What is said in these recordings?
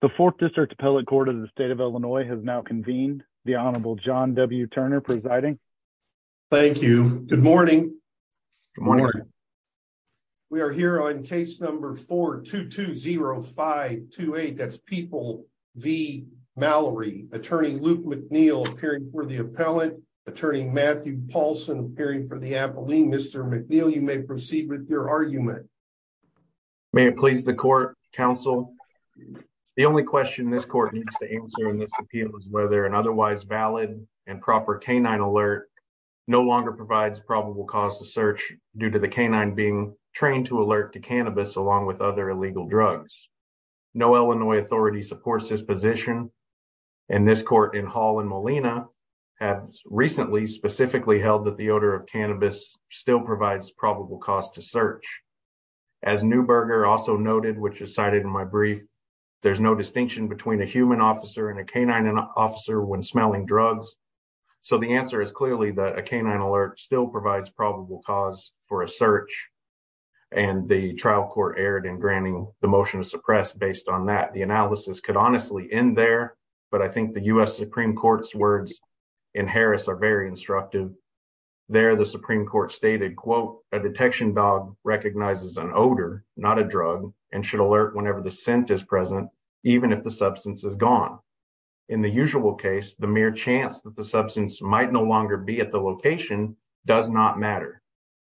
The fourth district appellate court of the state of Illinois has now convened. The Honorable John W. Turner presiding. Thank you. Good morning. Good morning. We are here on case number 4-2-2-0-5-2-8. That's People v. Mallory. Attorney Luke McNeil appearing for the appellate. Attorney Matthew Paulson appearing for the appellee. Mr. McNeil, you may proceed with your argument. May it please the court, counsel. The only question this court needs to answer in this appeal is whether an otherwise valid and proper canine alert no longer provides probable cause to search due to the canine being trained to alert to cannabis along with other illegal drugs. No Illinois authority supports this position, and this court in Hall and Molina has recently specifically held that the odor of cannabis still provides probable cause to search. As Neuberger also noted, which is cited in my brief, there is no distinction between a human officer and a canine officer when smelling drugs. So the answer is clearly that a canine alert still provides probable cause for a search, and the trial court erred in granting the motion to suppress based on that. The analysis could honestly end there, but I think the U.S. Supreme Court's words in Harris are very instructive. There, the Supreme Court stated, quote, a detection dog recognizes an odor, not a drug, and should alert whenever the scent is present, even if the substance is gone. In the usual case, the mere chance that the substance might no longer be at the location does not matter.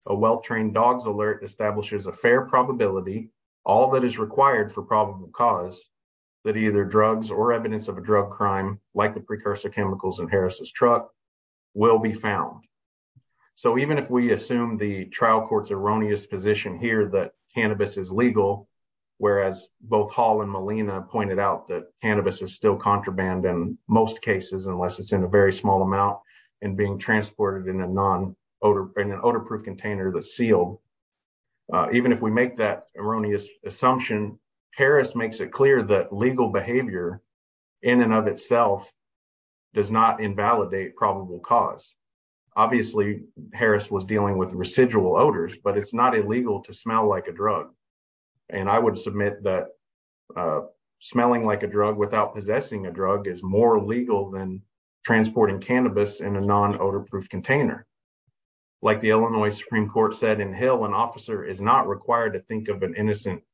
A well-trained dog's alert establishes a fair probability, all that is required for probable cause, that either drugs or evidence of a drug crime, like the precursor chemicals in Harris' truck, will be found. So even if we assume the trial court's erroneous position here that cannabis is legal, whereas both Hall and Molina pointed out that cannabis is still contraband in most cases, unless it's in a very small amount and being transported in an odor-proof container that's sealed, even if we make that erroneous assumption, Harris makes it clear that legal behavior in and of itself does not invalidate probable cause. Obviously, Harris was dealing with residual odors, but it's not illegal to smell like a drug. And I would submit that smelling like a drug without possessing a drug is more legal than transporting cannabis in a non-odor-proof container. Like the Illinois Supreme Court said in Hill, an officer is not required to think of an activity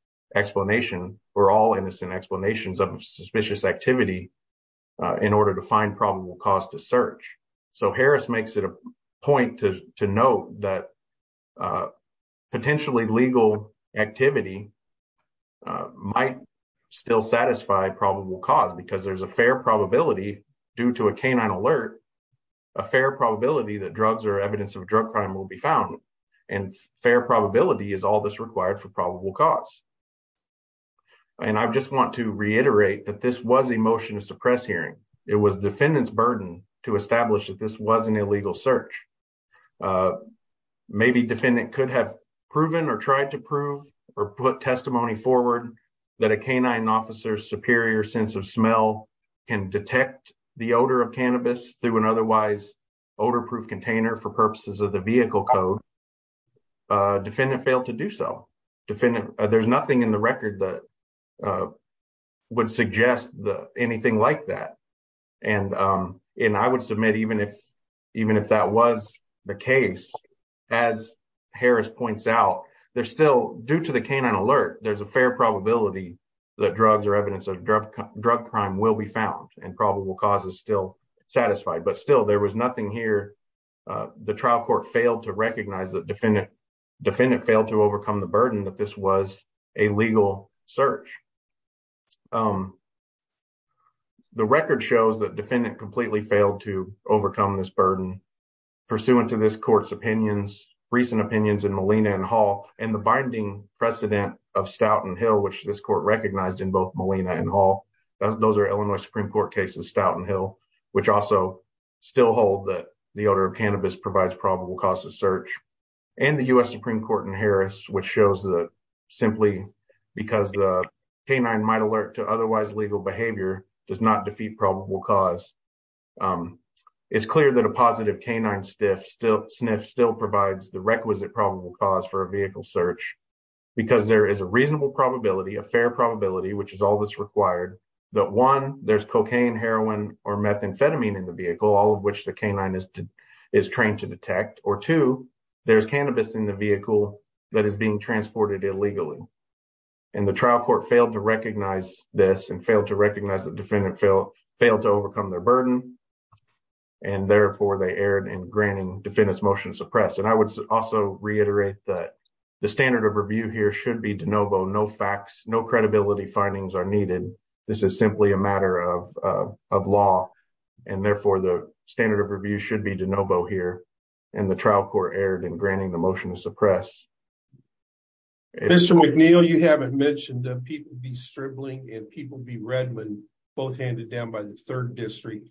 in order to find probable cause to search. So Harris makes it a point to note that potentially legal activity might still satisfy probable cause, because there's a fair probability, due to a canine alert, a fair probability that drugs or evidence of a drug crime will be found. And fair probability is all that's required for probable cause. And I just want to reiterate that this was a motion to suppress hearing. It was defendant's burden to establish that this was an illegal search. Maybe defendant could have proven or tried to prove or put testimony forward that a canine officer's superior sense of smell can detect the odor of cannabis through an otherwise odor-proof container for purposes of the vehicle code. Defendant failed to do so. There's nothing in the record that would suggest anything like that. And I would submit, even if that was the case, as Harris points out, there's still, due to the canine alert, there's a fair probability that drugs or evidence of drug crime will be found and probable cause is still satisfied. But still, there was nothing here. The trial court failed to recognize that defendant failed to overcome the burden that this was a legal search. The record shows that defendant completely failed to overcome this burden pursuant to this court's opinions, recent opinions in Molina and Hall and the binding precedent of Stoughton Hill, which this court recognized in both Molina and Hall. Those are Illinois Supreme Court cases, Stoughton Hill, which also still hold that odor of cannabis provides probable cause of search. And the U.S. Supreme Court in Harris, which shows that simply because the canine might alert to otherwise legal behavior does not defeat probable cause. It's clear that a positive canine sniff still provides the requisite probable cause for a vehicle search because there is a reasonable probability, a fair probability, which is all that's required, that one, there's cocaine, heroin, or methamphetamine in the vehicle, all of which the canine is trained to detect. Or two, there's cannabis in the vehicle that is being transported illegally. And the trial court failed to recognize this and failed to recognize the defendant failed to overcome their burden. And therefore, they erred in granting defendant's motion suppressed. And I would also reiterate that the standard of review here should be de novo. No facts, no credibility findings are needed. This is simply a matter of law. And therefore, the standard of review should be de novo here. And the trial court erred in granting the motion to suppress. Mr. McNeil, you haven't mentioned that people be Stribling and people be Redmond, both handed down by the third district.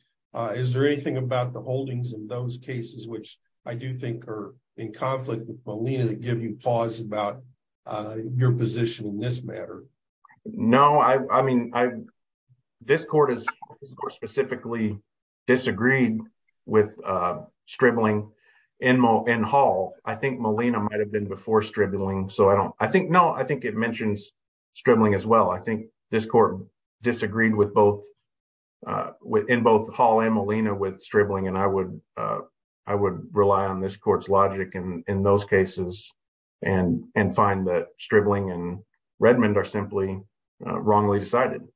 Is there anything about the holdings in those cases, which I do think are in conflict with Molina that give you pause about your position in this matter? No, I mean, this court specifically disagreed with Stribling and Hall. I think Molina might have been before Stribling. So I don't, I think, no, I think it mentions Stribling as well. I think this court disagreed with both, in both Hall and Molina with Stribling. And I would rely on this court's logic in those cases and find that Stribling and Redmond are simply wrongly decided.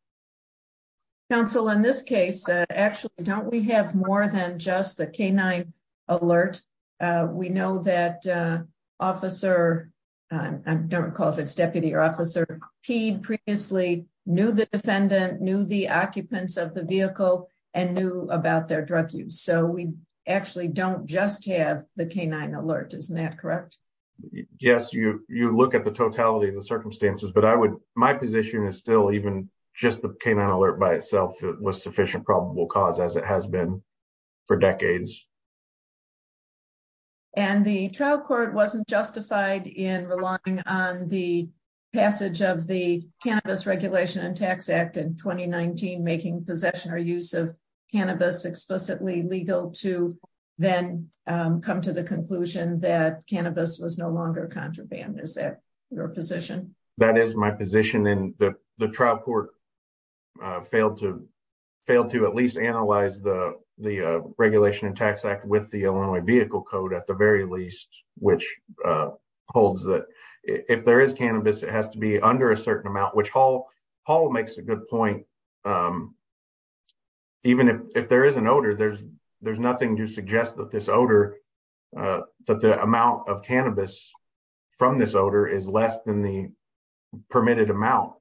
Counsel, in this case, actually, don't we have more than just the canine alert? We know that officer, I don't recall if it's deputy or officer, he previously knew the defendant, knew the occupants of the vehicle and knew about their drug use. So we actually don't just have the canine alert. Isn't that correct? Yes, you look at the totality of the circumstances, but I would, my position is still even just the canine alert by itself was sufficient probable cause as it has been for decades. And the trial court wasn't justified in relying on the passage of the Cannabis Regulation and Tax Act in 2019, making possession or use of cannabis explicitly legal to then come to the conclusion that cannabis was no longer contraband. Is that your position? That is my position. And the trial court failed to at least analyze the Regulation and Tax Act with the Illinois Vehicle Code at the very least, which holds that if there is cannabis, it has to be under a certain amount, which Hall makes a good point. But even if there is an odor, there's nothing to suggest that this odor, that the amount of cannabis from this odor is less than the permitted amount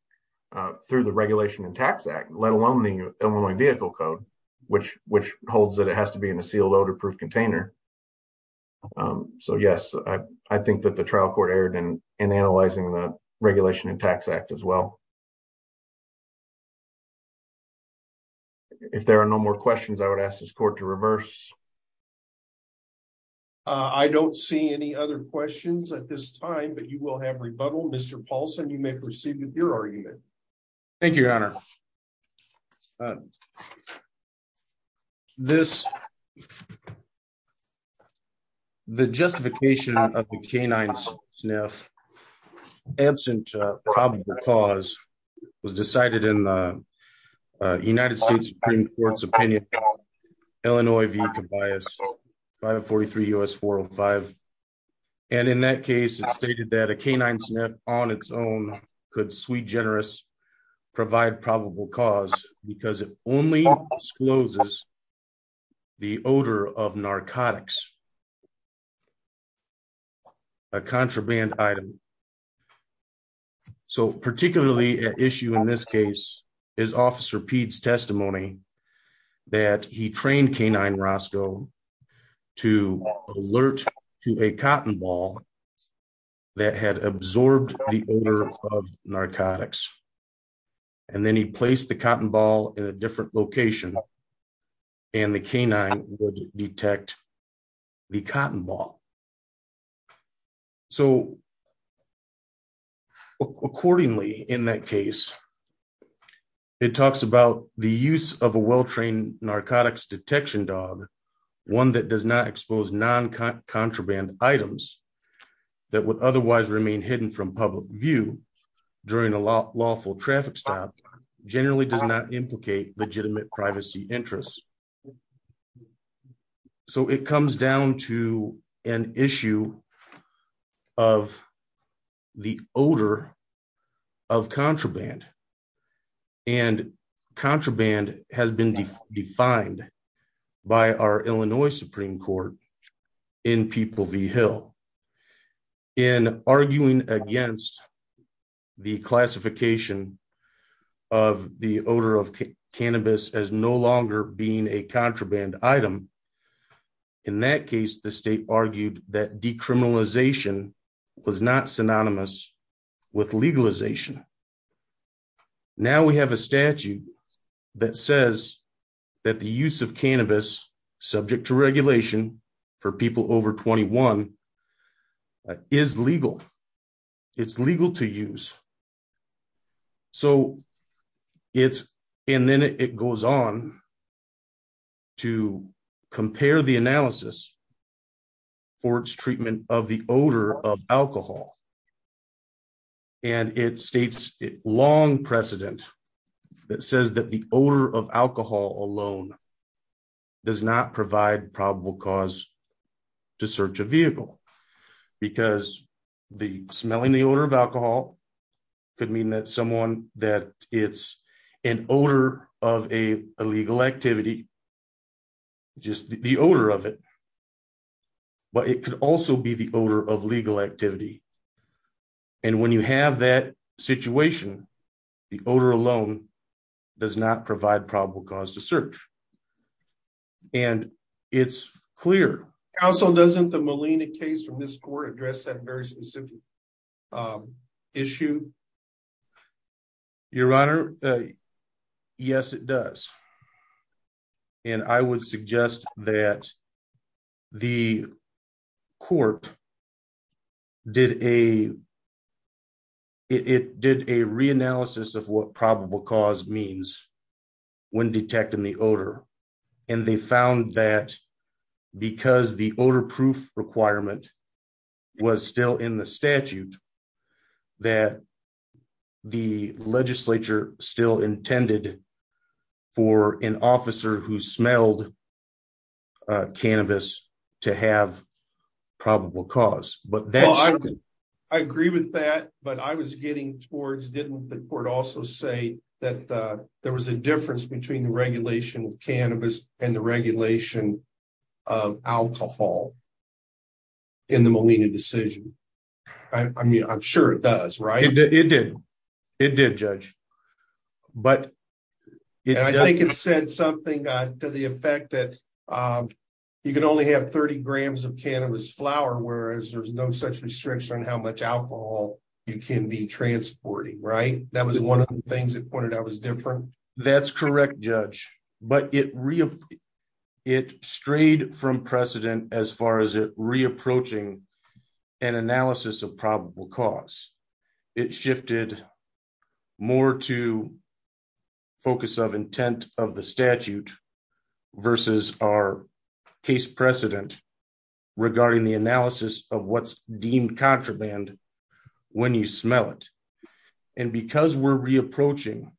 through the Regulation and Tax Act, let alone the Illinois Vehicle Code, which holds that it has to be in a sealed odor-proof container. So yes, I think that the trial court erred in analyzing the Regulation and Tax Act as well. If there are no more questions, I would ask this court to reverse. I don't see any other questions at this time, but you will have rebuttal. Mr. Paulson, you may proceed with your argument. Thank you, Your Honor. The justification of the canine sniff absent probable cause was decided in the United States Supreme Court's opinion, Illinois Vehicle Bias 5043 U.S. 405. And in that case, it stated that a canine sniff on its own could suite generous, provide probable cause because it only discloses the odor of narcotics, a contraband item. So particularly at issue in this case is Officer Peed's testimony that he trained canine Roscoe to alert to a cotton ball that had absorbed the odor of narcotics. And then he placed the cotton ball in a different location and the canine would detect the cotton ball. So accordingly, in that case, it talks about the use of a well-trained narcotics detection dog, one that does not expose non-contraband items that would otherwise remain hidden from view during a lawful traffic stop generally does not implicate legitimate privacy interests. So it comes down to an issue of the odor of contraband. And contraband has been defined by our Illinois Supreme Court in People v. Hill. In arguing against the classification of the odor of cannabis as no longer being a contraband item. In that case, the state argued that decriminalization was not synonymous with legalization. Now we have a statute that says that the use of cannabis, subject to regulation for people over 21, is legal. It's legal to use. So it's and then it goes on to compare the analysis for its treatment of the odor of alcohol. And it states a long precedent that says that the odor of alcohol alone does not provide probable cause to search a vehicle. Because the smelling the odor of alcohol could mean that someone that it's an odor of a illegal activity, just the odor of it. But it could also be the odor of legal activity. And when you have that situation, the odor alone does not provide probable cause to search. And it's clear. Also, doesn't the Molina case from this court address that very specific issue? Your Honor, yes, it does. And I would suggest that the court did a reanalysis of what probable cause means when detecting the odor. And they found that because the odor proof requirement was still in the statute, that the legislature still intended for an officer who smelled cannabis to have probable cause. But that's... The court also say that there was a difference between the regulation of cannabis and the regulation of alcohol in the Molina decision. I mean, I'm sure it does, right? It did. It did, Judge. But... I think it said something to the effect that you can only have 30 grams of cannabis flour, whereas there's no such restriction on how much alcohol you can be transporting, right? That was one of the things that pointed out was different. That's correct, Judge. But it strayed from precedent as far as it re-approaching an analysis of probable cause. It shifted more to focus of intent of the statute versus our case precedent regarding the analysis of what's deemed contraband when you smell it. And because we're re-approaching,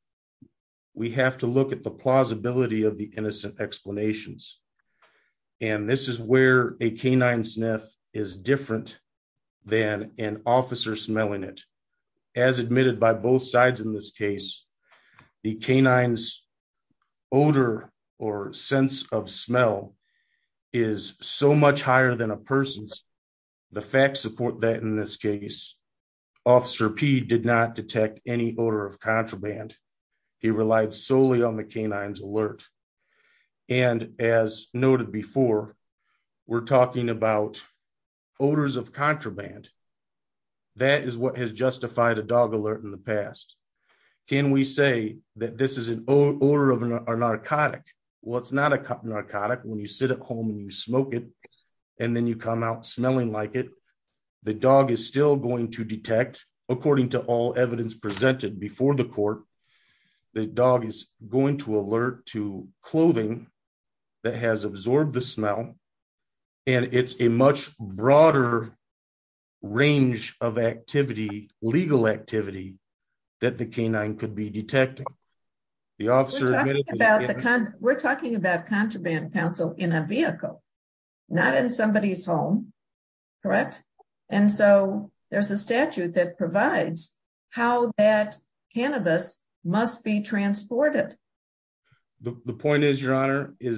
we have to look at the plausibility of the innocent explanations. And this is where a canine sniff is different than an officer smelling it. As admitted by both in this case, the canine's odor or sense of smell is so much higher than a person's. The facts support that in this case, Officer P did not detect any odor of contraband. He relied solely on the canine's alert. And as noted before, we're talking about of contraband. That is what has justified a dog alert in the past. Can we say that this is an odor of a narcotic? Well, it's not a narcotic when you sit at home and you smoke it, and then you come out smelling like it. The dog is still going to detect, according to all evidence presented before the court, the dog is going to alert to clothing that has absorbed the smell. And it's a much broader range of activity, legal activity, that the canine could be detecting. We're talking about contraband, counsel, in a vehicle, not in somebody's home, correct? And so there's a statute that provides how that cannabis must be is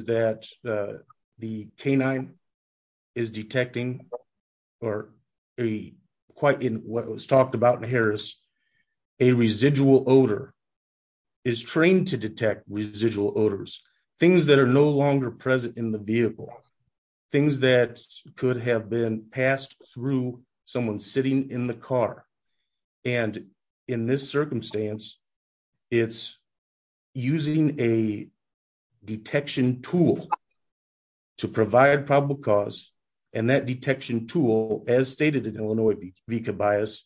that the canine is detecting or quite in what was talked about in Harris, a residual odor is trained to detect residual odors, things that are no longer present in the vehicle, things that could have been passed through someone sitting in the car. And in this circumstance, it's using a detection tool to provide probable cause. And that detection tool, as stated in Illinois v. Cabayas,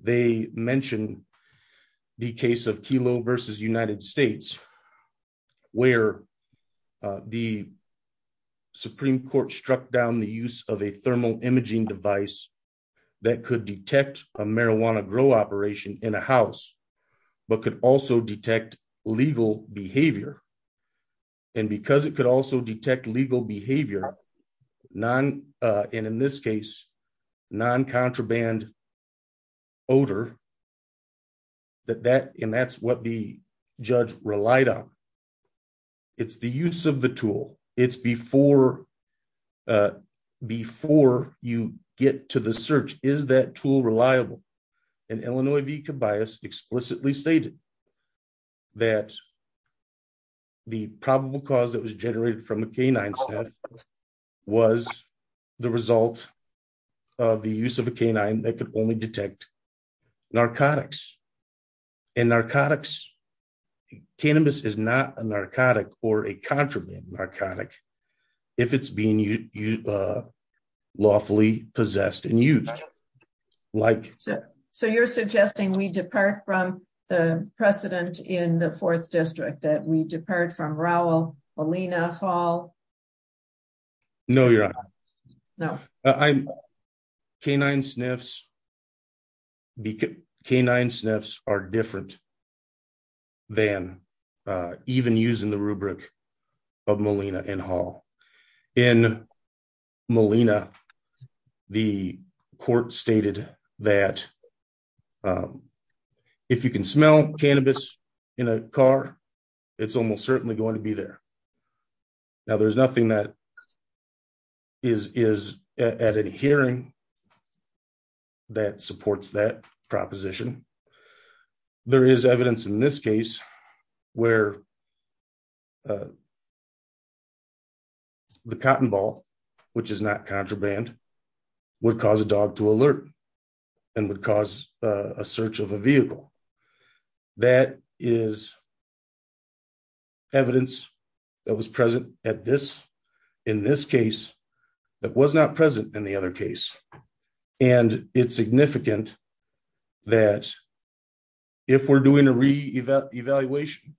they mentioned the case of Kelo versus United States, where the Supreme Court struck down the use of a thermal imaging device that could detect a also detect legal behavior. And because it could also detect legal behavior, and in this case, non-contraband odor, and that's what the judge relied on. It's the use of the tool. It's before you get to the search, is that tool reliable? And Illinois v. Cabayas explicitly stated that the probable cause that was generated from a canine sniff was the result of the use of a canine that could only detect narcotics and narcotics. Cannabis is not a narcotic or a contraband narcotic. If it's being lawfully possessed and used like... So you're suggesting we depart from the precedent in the fourth district, that we depart from Rowell, Molina, Hall? No, Your Honor. No. I'm... Canine sniffs are different than even using the rubric of Molina and Hall. In Molina, the court stated that if you can smell cannabis in a car, it's almost certainly going to be there. Now, there's nothing that is at any hearing that supports that proposition. There is evidence in this case where the cotton ball, which is not contraband, would cause a dog to alert and would cause a search of a vehicle. That is evidence that was present at this... In this case, that was not present in the other case. And it's significant that if we're doing a reevaluation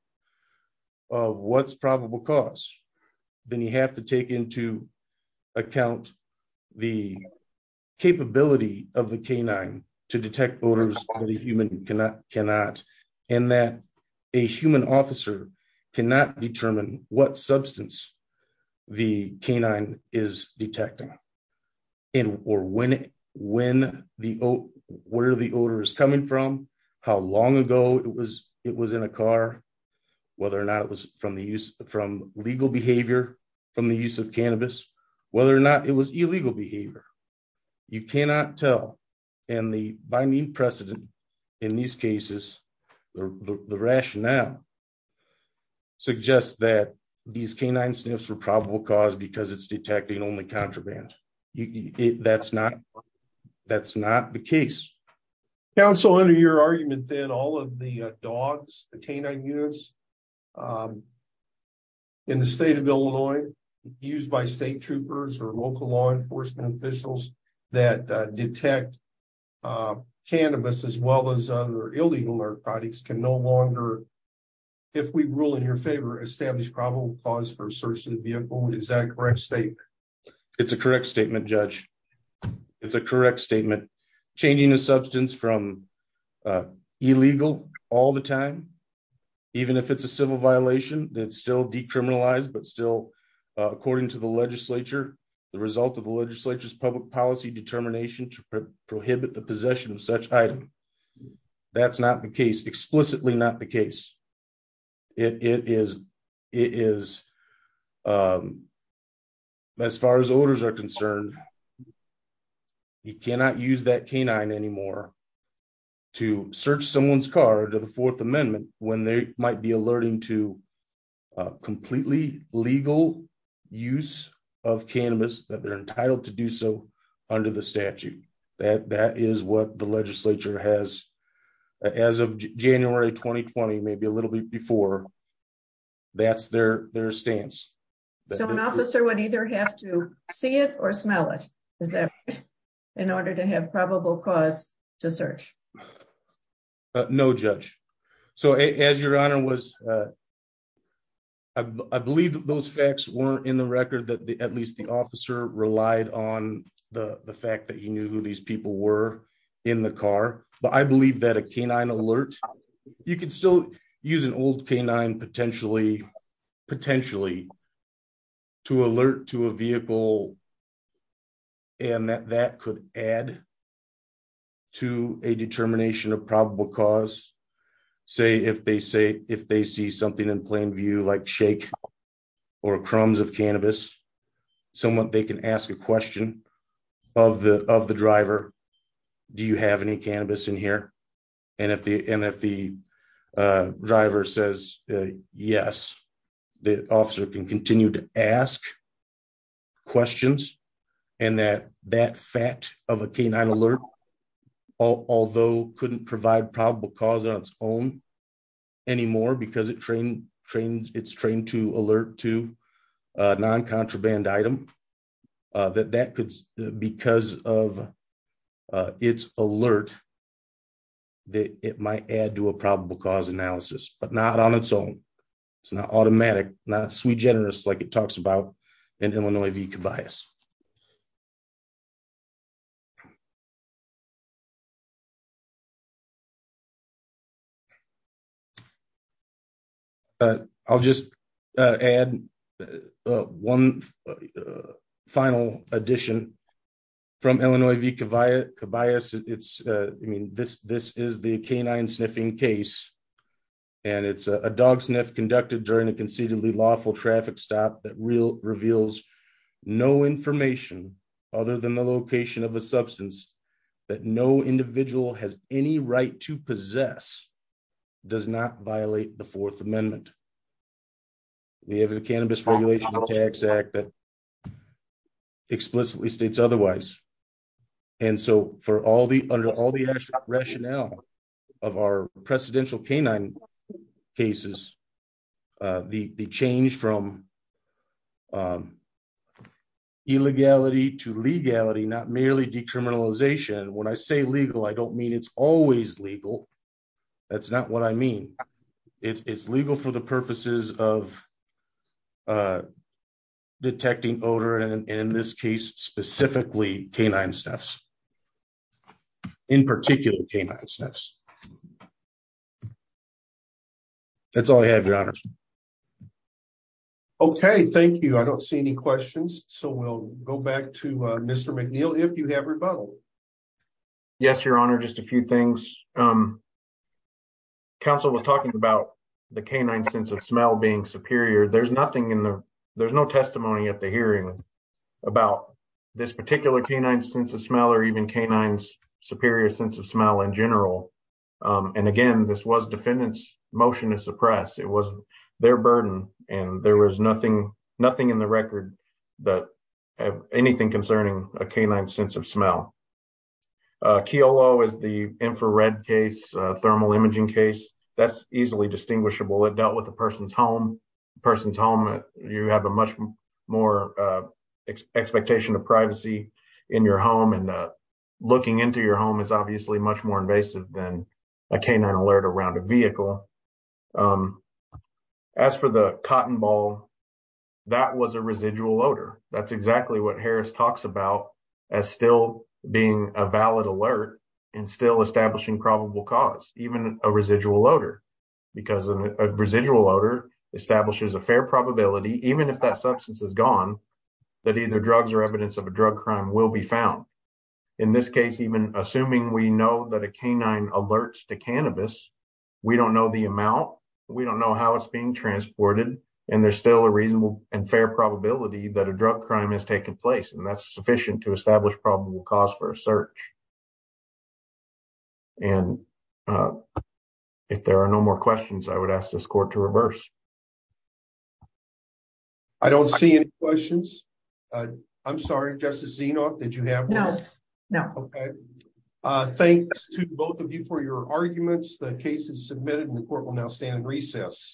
of what's probable cause, then you have to take into account the capability of the canine to detect odors that a human cannot. And that a human officer cannot determine what substance the canine is detecting, or when the... Where the odor is coming from, how long ago it was in a car, whether or not it was from the use... From legal behavior, from the use of cannabis, whether or not it was illegal behavior. You cannot tell. And the binding precedent in these cases, the rationale, suggests that these canine sniffs were probable cause because it's detecting only contraband. That's not... That's not the case. Counsel, under your argument then, all of the dogs, the canine units in the state of Illinois, used by state troopers or local law enforcement officials that detect cannabis, as well as other illegal narcotics, can no longer, if we rule in your favor, establish probable cause for a search of the vehicle. Is that a correct statement? It's a correct statement, Judge. It's a correct statement. Changing a civil violation, it's still decriminalized, but still, according to the legislature, the result of the legislature's public policy determination to prohibit the possession of such item. That's not the case. Explicitly not the case. It is... As far as orders are concerned, you cannot use that canine anymore to search someone's car under the Fourth Amendment when they might be alerting to a completely legal use of cannabis that they're entitled to do so under the statute. That is what the legislature has, as of January 2020, maybe a little bit before, that's their stance. So an officer would either have to see it or smell it. Is that right? In as your honor was... I believe that those facts weren't in the record that at least the officer relied on the fact that he knew who these people were in the car, but I believe that a canine alert, you can still use an old canine potentially to alert to a vehicle and that that could add to a determination of probable cause. Say if they see something in plain view like shake or crumbs of cannabis, someone, they can ask a question of the driver. Do you have any cannabis in here? And if the driver says yes, the officer can continue to ask questions and that that fact of a canine alert, although couldn't provide probable cause on its own anymore because it's trained to alert to a non-contraband item, that that could because of its alert, that it might add to a probable cause analysis, but not on its own. It's not automatic, not sui generis like it is. I'll just add one final addition from Illinois v. Cabayas. This is the canine sniffing case and it's a dog sniff conducted during a concededly lawful traffic stop that reveals no information other than the location of a substance that no individual has any right to possess does not violate the fourth amendment. We have a cannabis regulation tax act that explicitly states otherwise and so for all the, under all the extra rationale of our precedential canine cases, the change from illegality to legality, not merely decriminalization. When I say legal, I don't mean it's always legal. That's not what I mean. It's legal for the purposes of That's all I have your honors. Okay. Thank you. I don't see any questions. So we'll go back to Mr. McNeil if you have rebuttal. Yes, your honor. Just a few things. Council was talking about the canine sense of smell being superior. There's nothing in the, there's no testimony at the hearing about this particular canine sense of smell or even canines superior sense of smell in general. And again, this was defendants motion to suppress. It was their burden and there was nothing, nothing in the record that have anything concerning a canine sense of smell. Kilo is the infrared case, a thermal imaging case that's easily distinguishable. It dealt with a person's home person's home. You have a much more expectation of privacy in your home and looking into your home is obviously much more invasive than a canine alert around a vehicle. As for the cotton ball, that was a residual odor. That's exactly what Harris talks about as still being a valid alert and still establishing probable cause, even a residual odor, because a residual odor establishes a fair probability, even if that will be found in this case, even assuming we know that a canine alerts to cannabis, we don't know the amount, we don't know how it's being transported and there's still a reasonable and fair probability that a drug crime has taken place and that's sufficient to establish probable cause for a search. And if there are no more questions, I would ask this off. No. Okay. Thanks to both of you for your arguments. The case is submitted and the court will now stand in recess.